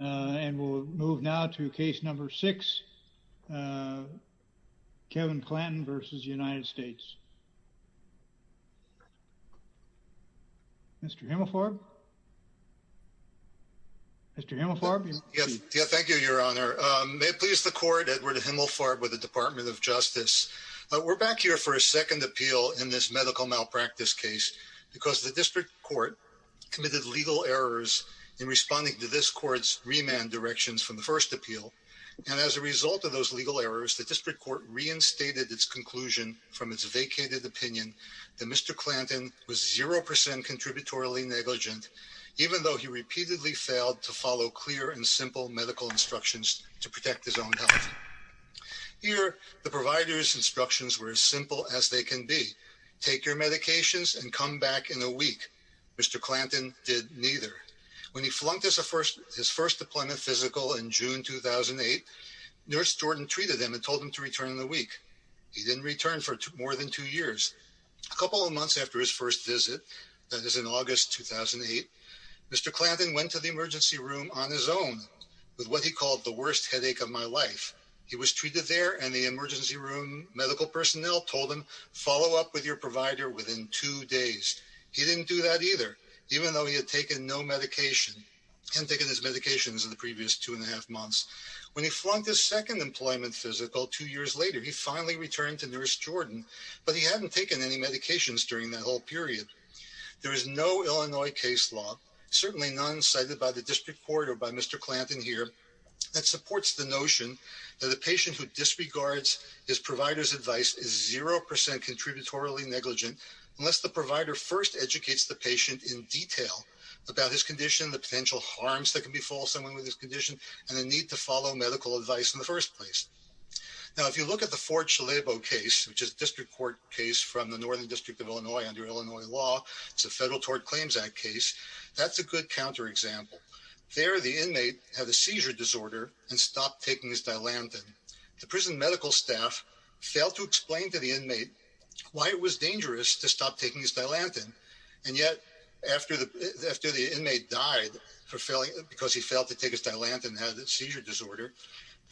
and we'll move now to case number six Kevin Clanton v. United States. Mr. Himmelfarb. Mr. Himmelfarb. Yes, thank you, Your Honor. May it please the court, Edward Himmelfarb with the Department of Justice. We're back here for a second appeal in this medical malpractice case because the district court committed legal errors in responding to this court's remand directions from the first appeal and as a result of those legal errors the district court reinstated its conclusion from its vacated opinion that Mr. Clanton was zero percent contributory negligent even though he repeatedly failed to follow clear and simple medical instructions to protect his own health. Here the provider's instructions were as simple as they can be. Take your medications and come back in a week. Mr. Clanton did neither. When he flunked his first deployment physical in June 2008, Nurse Jordan treated him and told him to return in a week. He didn't return for more than two years. A couple of months after his first visit, that is in August 2008, Mr. Clanton went to the emergency room on his own with what he called the worst headache of my life. He was treated there and the emergency room medical personnel told him follow up with your days. He didn't do that either even though he had taken no medication and taken his medications in the previous two and a half months. When he flunked his second employment physical two years later he finally returned to Nurse Jordan but he hadn't taken any medications during that whole period. There is no Illinois case law, certainly none cited by the district court or by Mr. Clanton here, that supports the notion that the patient who disregards his provider's advice is 0% contributorily negligent unless the provider first educates the patient in detail about his condition, the potential harms that can befall someone with this condition, and the need to follow medical advice in the first place. Now if you look at the Fort Chalebo case, which is a district court case from the Northern District of Illinois under Illinois law, it's a Federal Tort Claims Act case, that's a good counterexample. There the inmate had a seizure disorder and stopped taking his Dilantin. The prison medical staff failed to explain to the inmate why it was dangerous to stop taking his Dilantin and yet after the after the inmate died for failing because he failed to take his Dilantin and had a seizure disorder,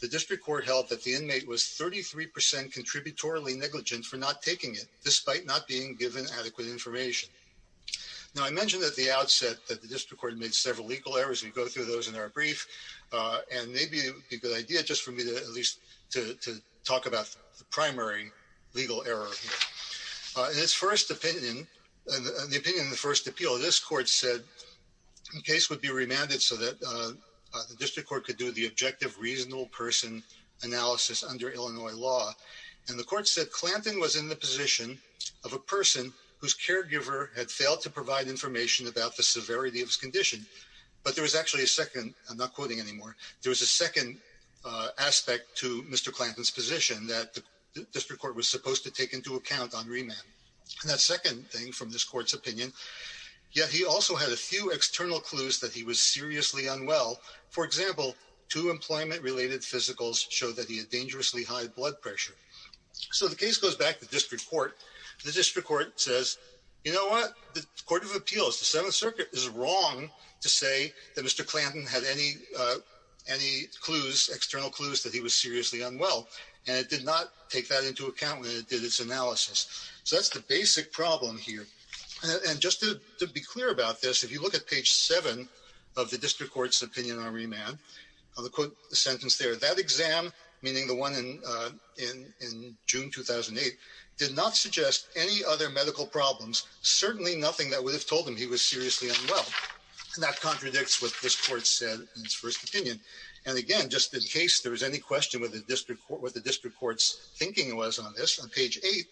the district court held that the inmate was 33% contributorily negligent for not taking it despite not being given adequate information. Now I mentioned at the outset that the district court made several legal errors, we go through those in our brief, and maybe a good idea just for me to at least to talk about the primary legal error. In its first opinion, the opinion in the first appeal, this court said the case would be remanded so that the district court could do the objective reasonable person analysis under Illinois law, and the court said Clanton was in the position of a person whose caregiver had failed to provide information about the severity of his condition, but there was actually a second, I'm not quoting anymore, there was a second aspect to Mr. Clanton's position that the district court was supposed to take into account on remand. And that second thing from this court's opinion, yet he also had a few external clues that he was seriously unwell. For example, two employment related physicals show that he had dangerously high blood pressure. So the case goes back to the district court. The district court says, you know what, the Court of Inquisition had any clues, external clues that he was seriously unwell, and it did not take that into account when it did its analysis. So that's the basic problem here. And just to be clear about this, if you look at page 7 of the district court's opinion on remand, I'll quote the sentence there, that exam, meaning the one in June 2008, did not suggest any other medical problems, certainly nothing that would have told him he was seriously unwell, and that contradicts what this court said in its first opinion. And again, just in case there was any question with the district court, what the district court's thinking was on this, on page 8,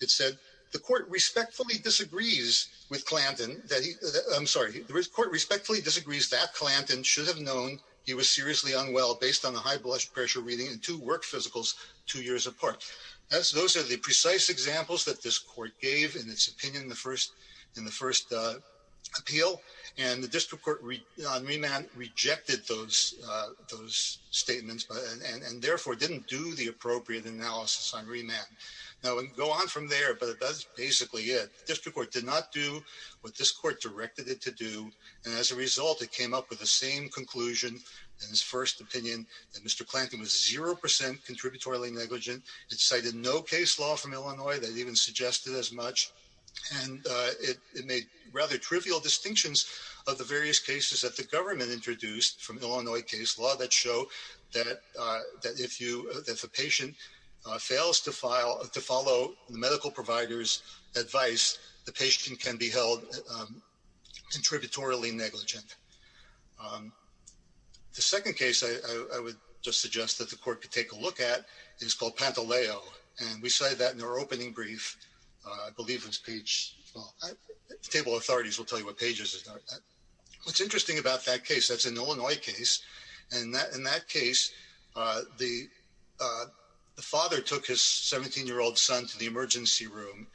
it said, the court respectfully disagrees with Clanton that he, I'm sorry, the court respectfully disagrees that Clanton should have known he was seriously unwell based on the high blood pressure reading and two work physicals two years apart. Those are the precise examples that this court gave in its opinion in the first, in the first appeal, and the district court on remand rejected those statements, and therefore didn't do the appropriate analysis on remand. Now we can go on from there, but that's basically it. The district court did not do what this court directed it to do, and as a result, it came up with the same conclusion in his first opinion that Mr. Clanton was 0% contributory negligent. It cited no case law from Illinois that even suggested as much, and it made rather trivial distinctions of the various cases that the government introduced from Illinois case law that show that if you, if a patient fails to file, to follow the medical providers advice, the patient can be held contributory negligent. The second case I would just suggest that the court could take a look at is called Pantaleo, and we cited that in our opening brief. I believe it's page, the what's interesting about that case, that's an Illinois case, and that in that case, uh, the, uh, the father took his 17 year old son to the emergency room.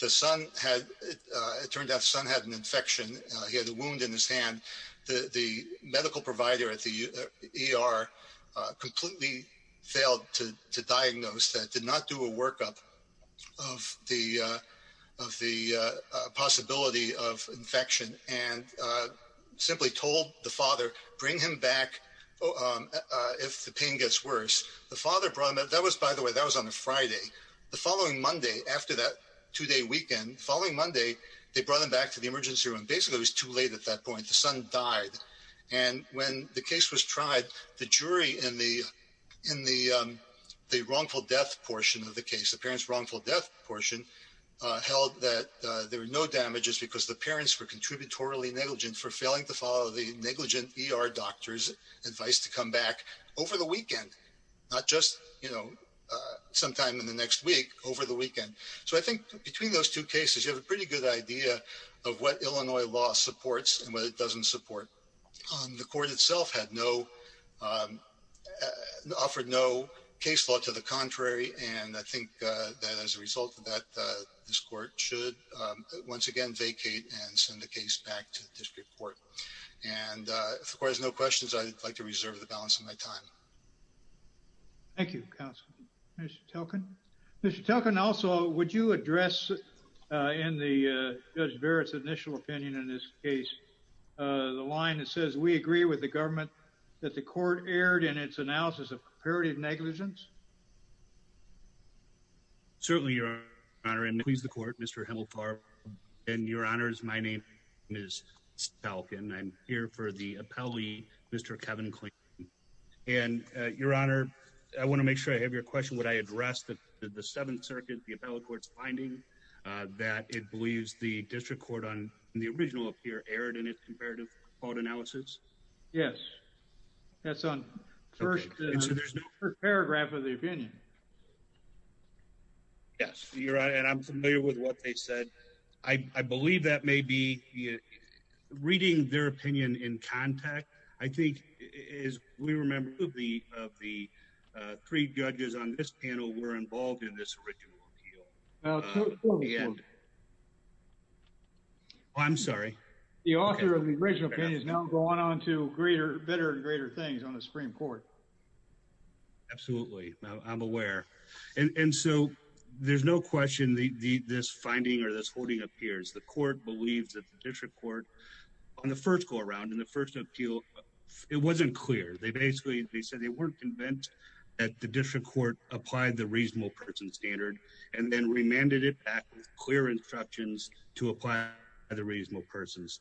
The son had, uh, it turned out son had an infection. He had a wound in his hand. The medical provider at the E. R. Completely failed to diagnose that did not do a workup of the of the possibility of infection and simply told the father, bring him back. If the pain gets worse, the father brought that that was, by the way, that was on a Friday. The following Monday, after that two day weekend following Monday, they brought him back to the emergency room. Basically, it was too late. At that point, the son died. And when the death portion of the case, the parents wrongful death portion held that there were no damages because the parents were contributory negligent for failing to follow the negligent E. R. Doctors advice to come back over the weekend, not just, you know, uh, sometime in the next week over the weekend. So I think between those two cases, you have a pretty good idea of what Illinois law supports and what it doesn't support. Um, the court itself had no, um, offered no case law to the contrary. And I think that as a result of that, this court should once again vacate and send the case back to the district court. And, of course, no questions. I'd like to reserve the balance of my time. Thank you, Council. Mr Talkin, Mr Talkin. Also, would you address in the judge Barrett's initial opinion in this case? Uh, the line that says we agree with the government that the court erred in its analysis of comparative negligence. Certainly, Your Honor. And please, the court, Mr Himmelfarb and your honors. My name is Falcon. I'm here for the appellee, Mr Kevin Clayton and your honor. I want to make sure I have your question. Would I address that the Seventh Circuit, the appellate court's finding that it believes the district court on the original appear erred in its comparative fault analysis? Yes, that's on first paragraph of the opinion. Yes, you're right. And I'm familiar with what they said. I believe that may be reading their opinion in contact. I think is we remember the of the three judges on this panel were involved in this original appeal. Now, I'm sorry. The author of the original opinion is now going on to greater, better and greater things on the Supreme Court. Absolutely. I'm aware. And so there's no question the this finding or this holding appears. The court believes that the district court on the first go around in the first appeal. It wasn't clear. They basically they said they weren't convinced that the district court applied the reasonable person standard and then remanded it back with clear instructions to apply the reasonable persons.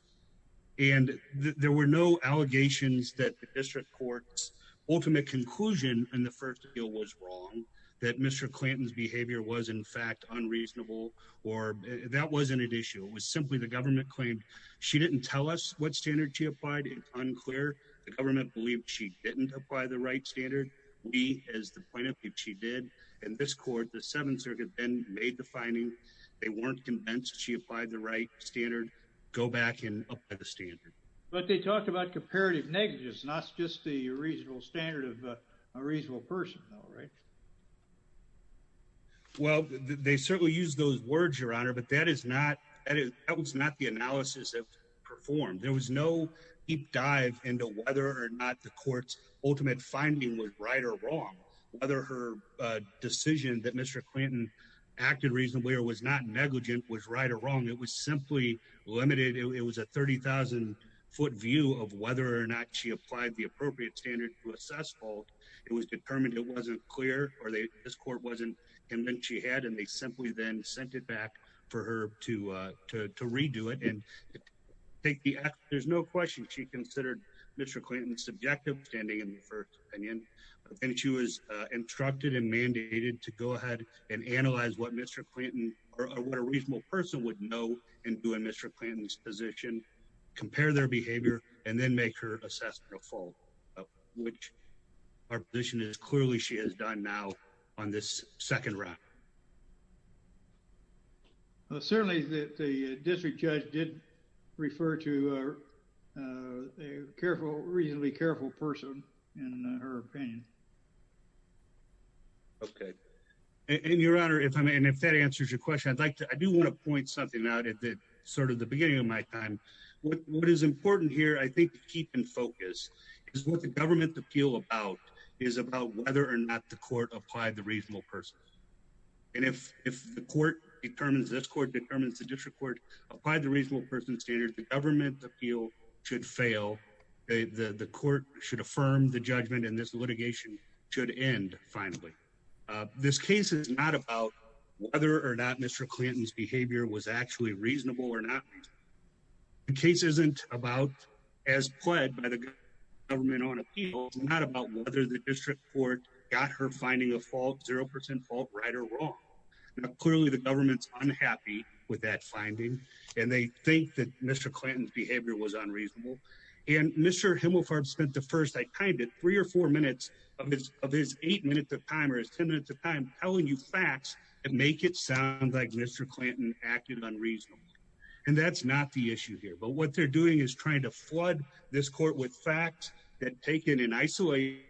And there were no allegations that the district court's ultimate conclusion in the first deal was wrong, that Mr Clinton's behavior was in fact unreasonable or that wasn't an issue. It was simply the government claimed. She didn't tell us what standard she applied. It's unclear. The government believed she didn't apply the right standard. We as the point of view, she did. And this court, the Seventh Circuit then made the finding they weren't convinced she applied the right standard. Go back in the standard. But they talked about comparative negatives, not just the reasonable standard of a reasonable person. All right. Well, they certainly use those words, Your Honor. But that is not that was not the analysis of performed. There was no deep dive into whether or not the decision that Mr Clinton acted reasonably or was not negligent was right or wrong. It was simply limited. It was a 30,000 ft view of whether or not she applied the appropriate standard to assess fault. It was determined it wasn't clear or this court wasn't convinced she had, and they simply then sent it back for her to to redo it. And I think there's no question she considered Mr Clinton's subjective standing in the first opinion, and she was instructed and mandated to go ahead and analyze what Mr Clinton or what a reasonable person would know and do in Mr Clinton's position, compare their behavior and then make her assess the full which our position is. Clearly, she has done now on this second round. Certainly, the district judge did refer to, uh, careful, reasonably careful person in her opinion. Okay. And Your Honor, if I mean, if that answers your question, I'd like to. I do want to point something out at the sort of the beginning of my time. What is important here, I think, keep in focus is what the government appeal about is about whether or not the court applied the reasonable person. And if if the court determines this court determines the district court applied the reasonable person standard, the government appeal should fail. The court should affirm the judgment in this litigation should end. Finally, this case is not about whether or not Mr Clinton's behavior was actually reasonable or not. The case isn't about as pled by the government on appeal, not about whether the district court got her finding a fault 0% fault right or wrong. Clearly, the government's unhappy with that finding, and they think that Mr Clinton's behavior was unreasonable. And Mr Himmelfarb spent the first I kind of three or four minutes of his of his eight minutes of time or his 10 minutes of time telling you facts and make it sound like Mr Clinton acted unreasonable. And that's not the issue here. But what they're doing is trying to flood this court with facts that taken in isolation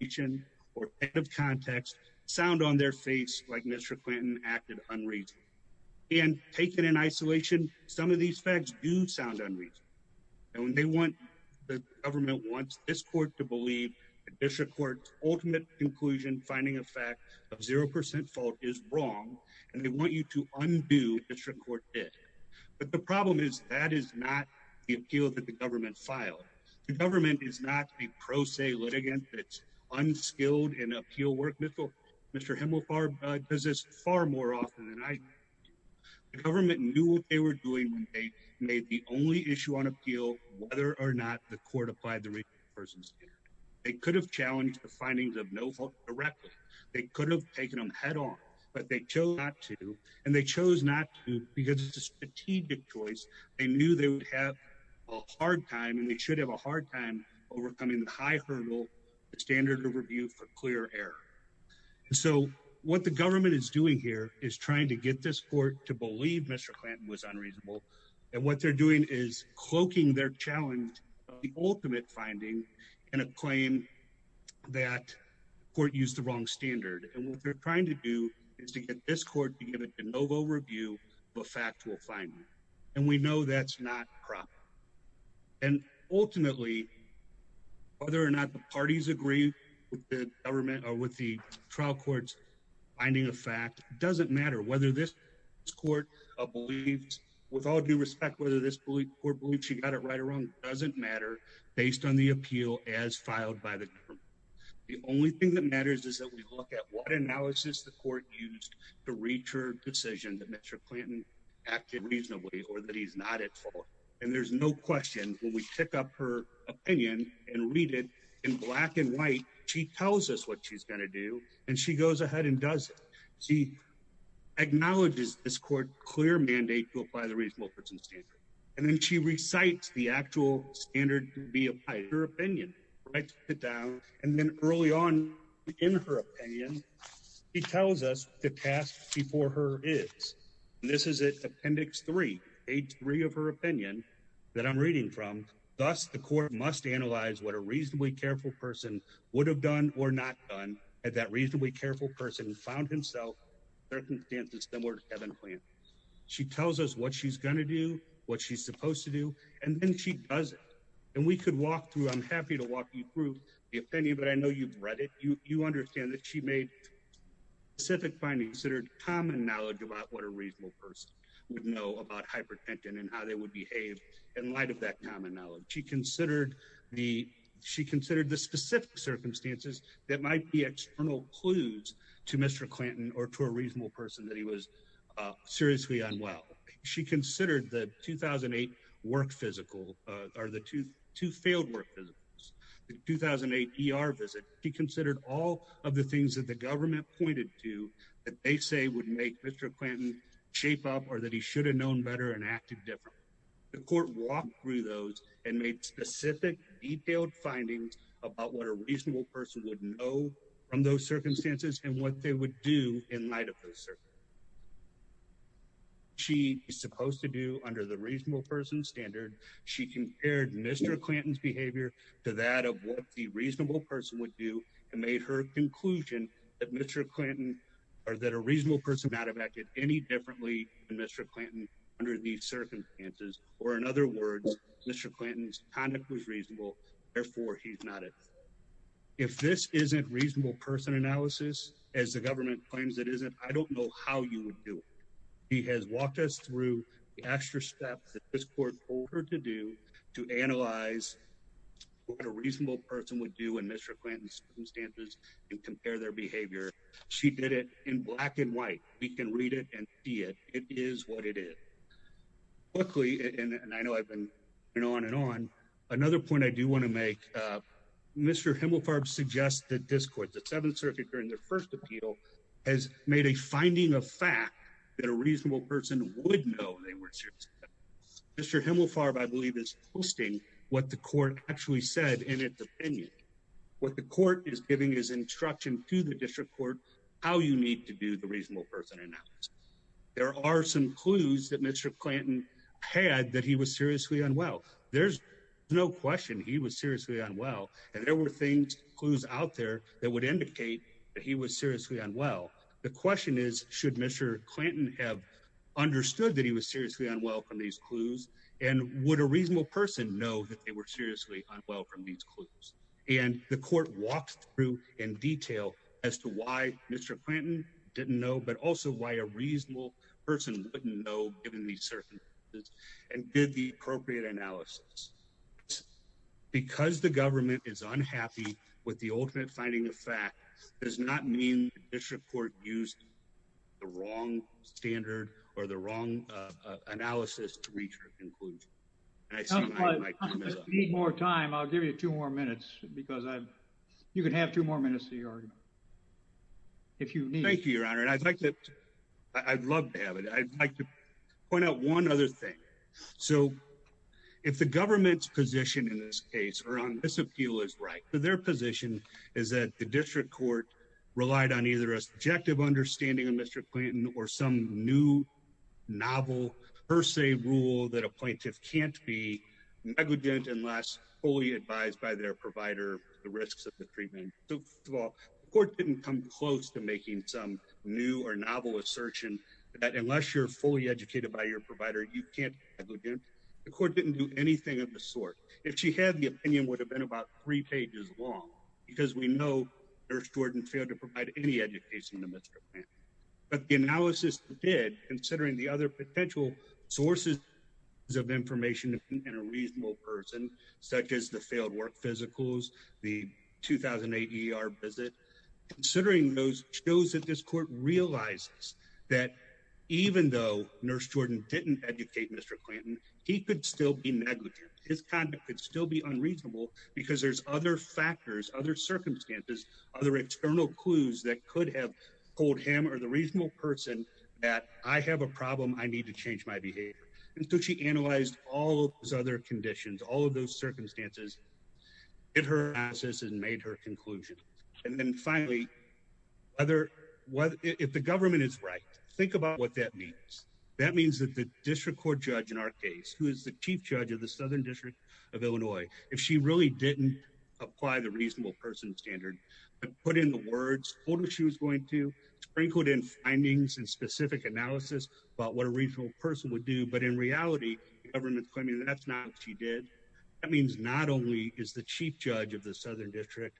each in or out of context sound on their face like Mr Clinton acted unreason. And taken in isolation, some of these facts do sound unreasonable. And when they want, the government wants this court to believe district court's ultimate conclusion. Finding a fact of 0% fault is wrong, and they want you to undo district court. But the problem is, that is not the appeal that the government filed. The government is not a pro se litigant that's unskilled in appeal work. Mr Mr Himmelfarb does this far more often than I government knew they were doing. They made the only issue on appeal, whether or not the court applied the person's. They could have challenged the findings of no fault directly. They could have taken him head on, but they chose not to, and they chose not because it's a strategic choice. They knew they would have a hard time, and they should have a hard time overcoming the high hurdle standard review for clear air. So what the government is doing here is trying to get this court to believe Mr Clinton was unreasonable. And what they're doing is cloaking their challenge, the ultimate finding in a claim that court used the wrong standard. And what they're trying to do is to get this court to give it a overview of a factual finding, and we know that's not proper. And ultimately, whether or not the parties agree with the government or with the trial court's finding of fact doesn't matter whether this court believes with all due respect, whether this belief or believe she got it right or wrong doesn't matter based on the appeal as filed by the only thing that matters is that we look at what analysis the court used to reach her decision that Mr Clinton acted reasonably or that he's not at fault. And there's no question when we pick up her opinion and read it in black and white, she tells us what she's gonna do, and she goes ahead and does. She acknowledges this court clear mandate to apply the reasonable person standard, and then she recites the opinion. He tells us the task before her is. This is it. Appendix three, a three of her opinion that I'm reading from. Thus, the court must analyze what a reasonably careful person would have done or not done at that reasonably careful person found himself circumstances similar to heaven plan. She tells us what she's gonna do, what she's supposed to do, and then she doesn't. And we could walk through. I'm happy to walk you through the opinion, but I know you've read it. You understand that she made civic findings that are common knowledge about what a reasonable person would know about hypertension and how they would behave in light of that common knowledge. She considered the she considered the specific circumstances that might be external clues to Mr Clinton or to a reasonable person that he was seriously unwell. She considered the 2000 and eight work physical are the tooth to failed work 2008 er visit. He considered all of the things that the government pointed to that they say would make Mr Clinton shape up or that he should have known better and acted different. The court walked through those and made specific detailed findings about what a reasonable person would know from those circumstances and what they would do in light of the circuit she supposed to do under the reasonable person standard. She compared Mr Clinton's behavior to that of what the reasonable person would do and made her conclusion that Mr Clinton or that a reasonable person out of acted any differently than Mr Clinton under these circumstances or in other words, Mr Clinton's conduct was reasonable. Therefore, he's not it. If this isn't reasonable person analysis as the government claims it isn't, I don't know how you would do it. He has walked us through the extra steps that this work for her to do to analyze what a reasonable person would do in Mr Clinton's circumstances and compare their behavior. She did it in black and white. We can read it and see it. It is what it is. Luckily, and I know I've been going on and on. Another point I do want to make, uh, Mr Himmelfarb suggested this court, the Seventh Circuit during their first appeal has made a finding of fact that a reasonable person would know they were Mr Himmelfarb, I believe, is hosting what the court actually said in its opinion. What the court is giving his instruction to the district court how you need to do the reasonable person. And now there are some clues that Mr Clinton had that he was seriously unwell. There's no question he was seriously unwell, and there were things clues out there that would indicate that he was seriously unwell. The question is, should Mr Clinton have understood that he was seriously unwell from these clues? And would a reasonable person know that they were seriously unwell from these clues? And the court walked through in detail as to why Mr Clinton didn't know, but also why a reasonable person wouldn't know, given the certain and did the appropriate analysis because the government is unhappy with the ultimate finding of fact does not mean the district court used the wrong standard or the wrong analysis to reach your conclusion. I see more time. I'll give you two more minutes because you could have two more minutes to your argument if you thank you, Your Honor. And I'd like that. I'd love to have it. I'd like to point out one other thing. So if the government's position in this case around this appeal is right, their position is that the district court relied on either a subjective understanding of Mr Clinton or some new novel per se rule that a plaintiff can't be negligent unless fully advised by their provider. The risks of the treatment court didn't come close to making some new or novel assertion that unless you're fully educated by your provider, you can't go again. The court didn't do anything of the sort. If she had the opinion would have been about three pages long because we know they're Jordan failed to provide any education to Mr. But the analysis did considering the other potential sources of information and a reasonable person such as the failed work physicals, the 2000 80 our visit considering those shows that this court realizes that even though nurse Jordan didn't educate Mr Clinton, he could still be negligent. His conduct could still be unreasonable because there's other factors, other circumstances, other external clues that could have told him or the reasonable person that I have a problem. I need to change my behavior. And so she analyzed all those other conditions, all of those circumstances in her asses and made her conclusion. And then finally, whether if the government is right, think about what that means. That means that the district court judge in our case, who is the chief judge of the didn't apply the reasonable person standard and put in the words what she was going to sprinkled in findings and specific analysis about what a regional person would do. But in reality, government claiming that's not what she did. That means not only is the chief judge of the southern district,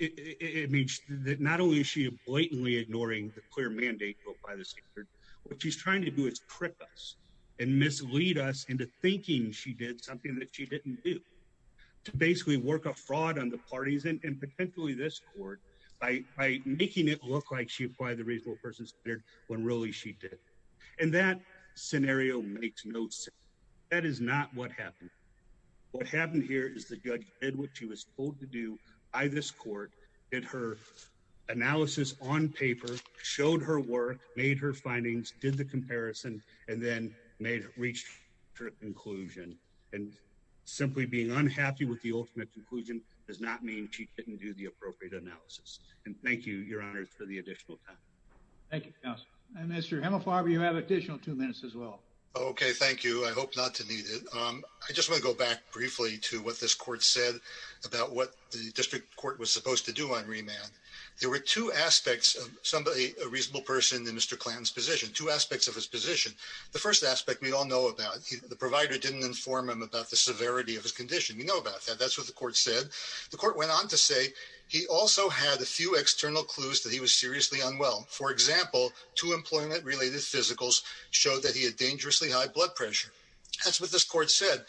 it means that not only is she blatantly ignoring the clear mandate by the standard, what she's trying to do is trip us and mislead us into thinking she did something that she didn't do to basically work a fraud on the parties and potentially this court by making it look like she applied the reasonable persons when really she did. And that scenario makes no sense. That is not what happened. What happened here is the judge did what she was told to do by this court in her analysis on paper, showed her work, made her findings, did the comparison and then made it reached her conclusion and simply being unhappy with the ultimate conclusion does not mean she didn't do the appropriate analysis. And thank you, Your Honor, for the additional time. Thank you. Mr Hemel Farber, you have additional two minutes as well. Okay, thank you. I hope not to need it. I just want to go back briefly to what this court said about what the district court was supposed to do on remand. There were two aspects of a reasonable person in Mr. Clanton's position, two aspects of his position. The first aspect we all know about the provider didn't inform him about the severity of his condition. We know about that. That's what the court said. The court went on to say he also had a few external clues that he was seriously unwell. For example, two employment related physicals showed that he had dangerously high blood pressure. That's what this court said.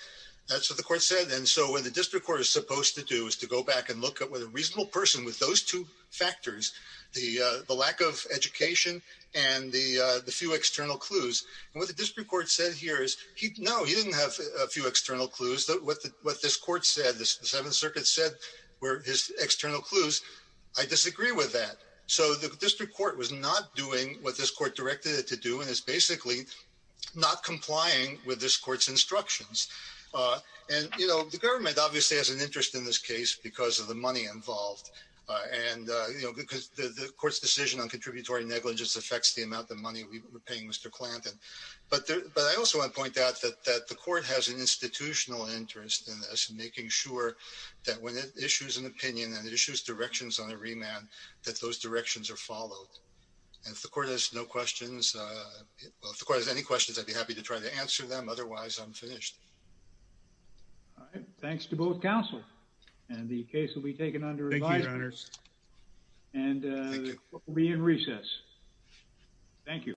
That's what the court said. And so when the district court is supposed to do is to go back and look at what a reasonable person with those two factors, the lack of education and the few external clues. And what the district court said here is no, he didn't have a few external clues. What this court said, the Seventh Circuit said, were his external clues. I disagree with that. So the district court was not doing what this court directed it to do and is basically not complying with this court's instructions. Uh, and, you know, obviously has an interest in this case because of the money involved. And, you know, because the court's decision on contributory negligence affects the amount of money we were paying Mr Clanton. But I also want to point out that the court has an institutional interest in us making sure that when it issues an opinion and issues directions on a remand, that those directions are followed. And if the court has no questions, uh, if the court has any questions, I'd be happy to try to answer them. Otherwise, I'm finished. All right. Thanks to both counsel and the case will be taken under advice. And we'll be in recess. Thank you.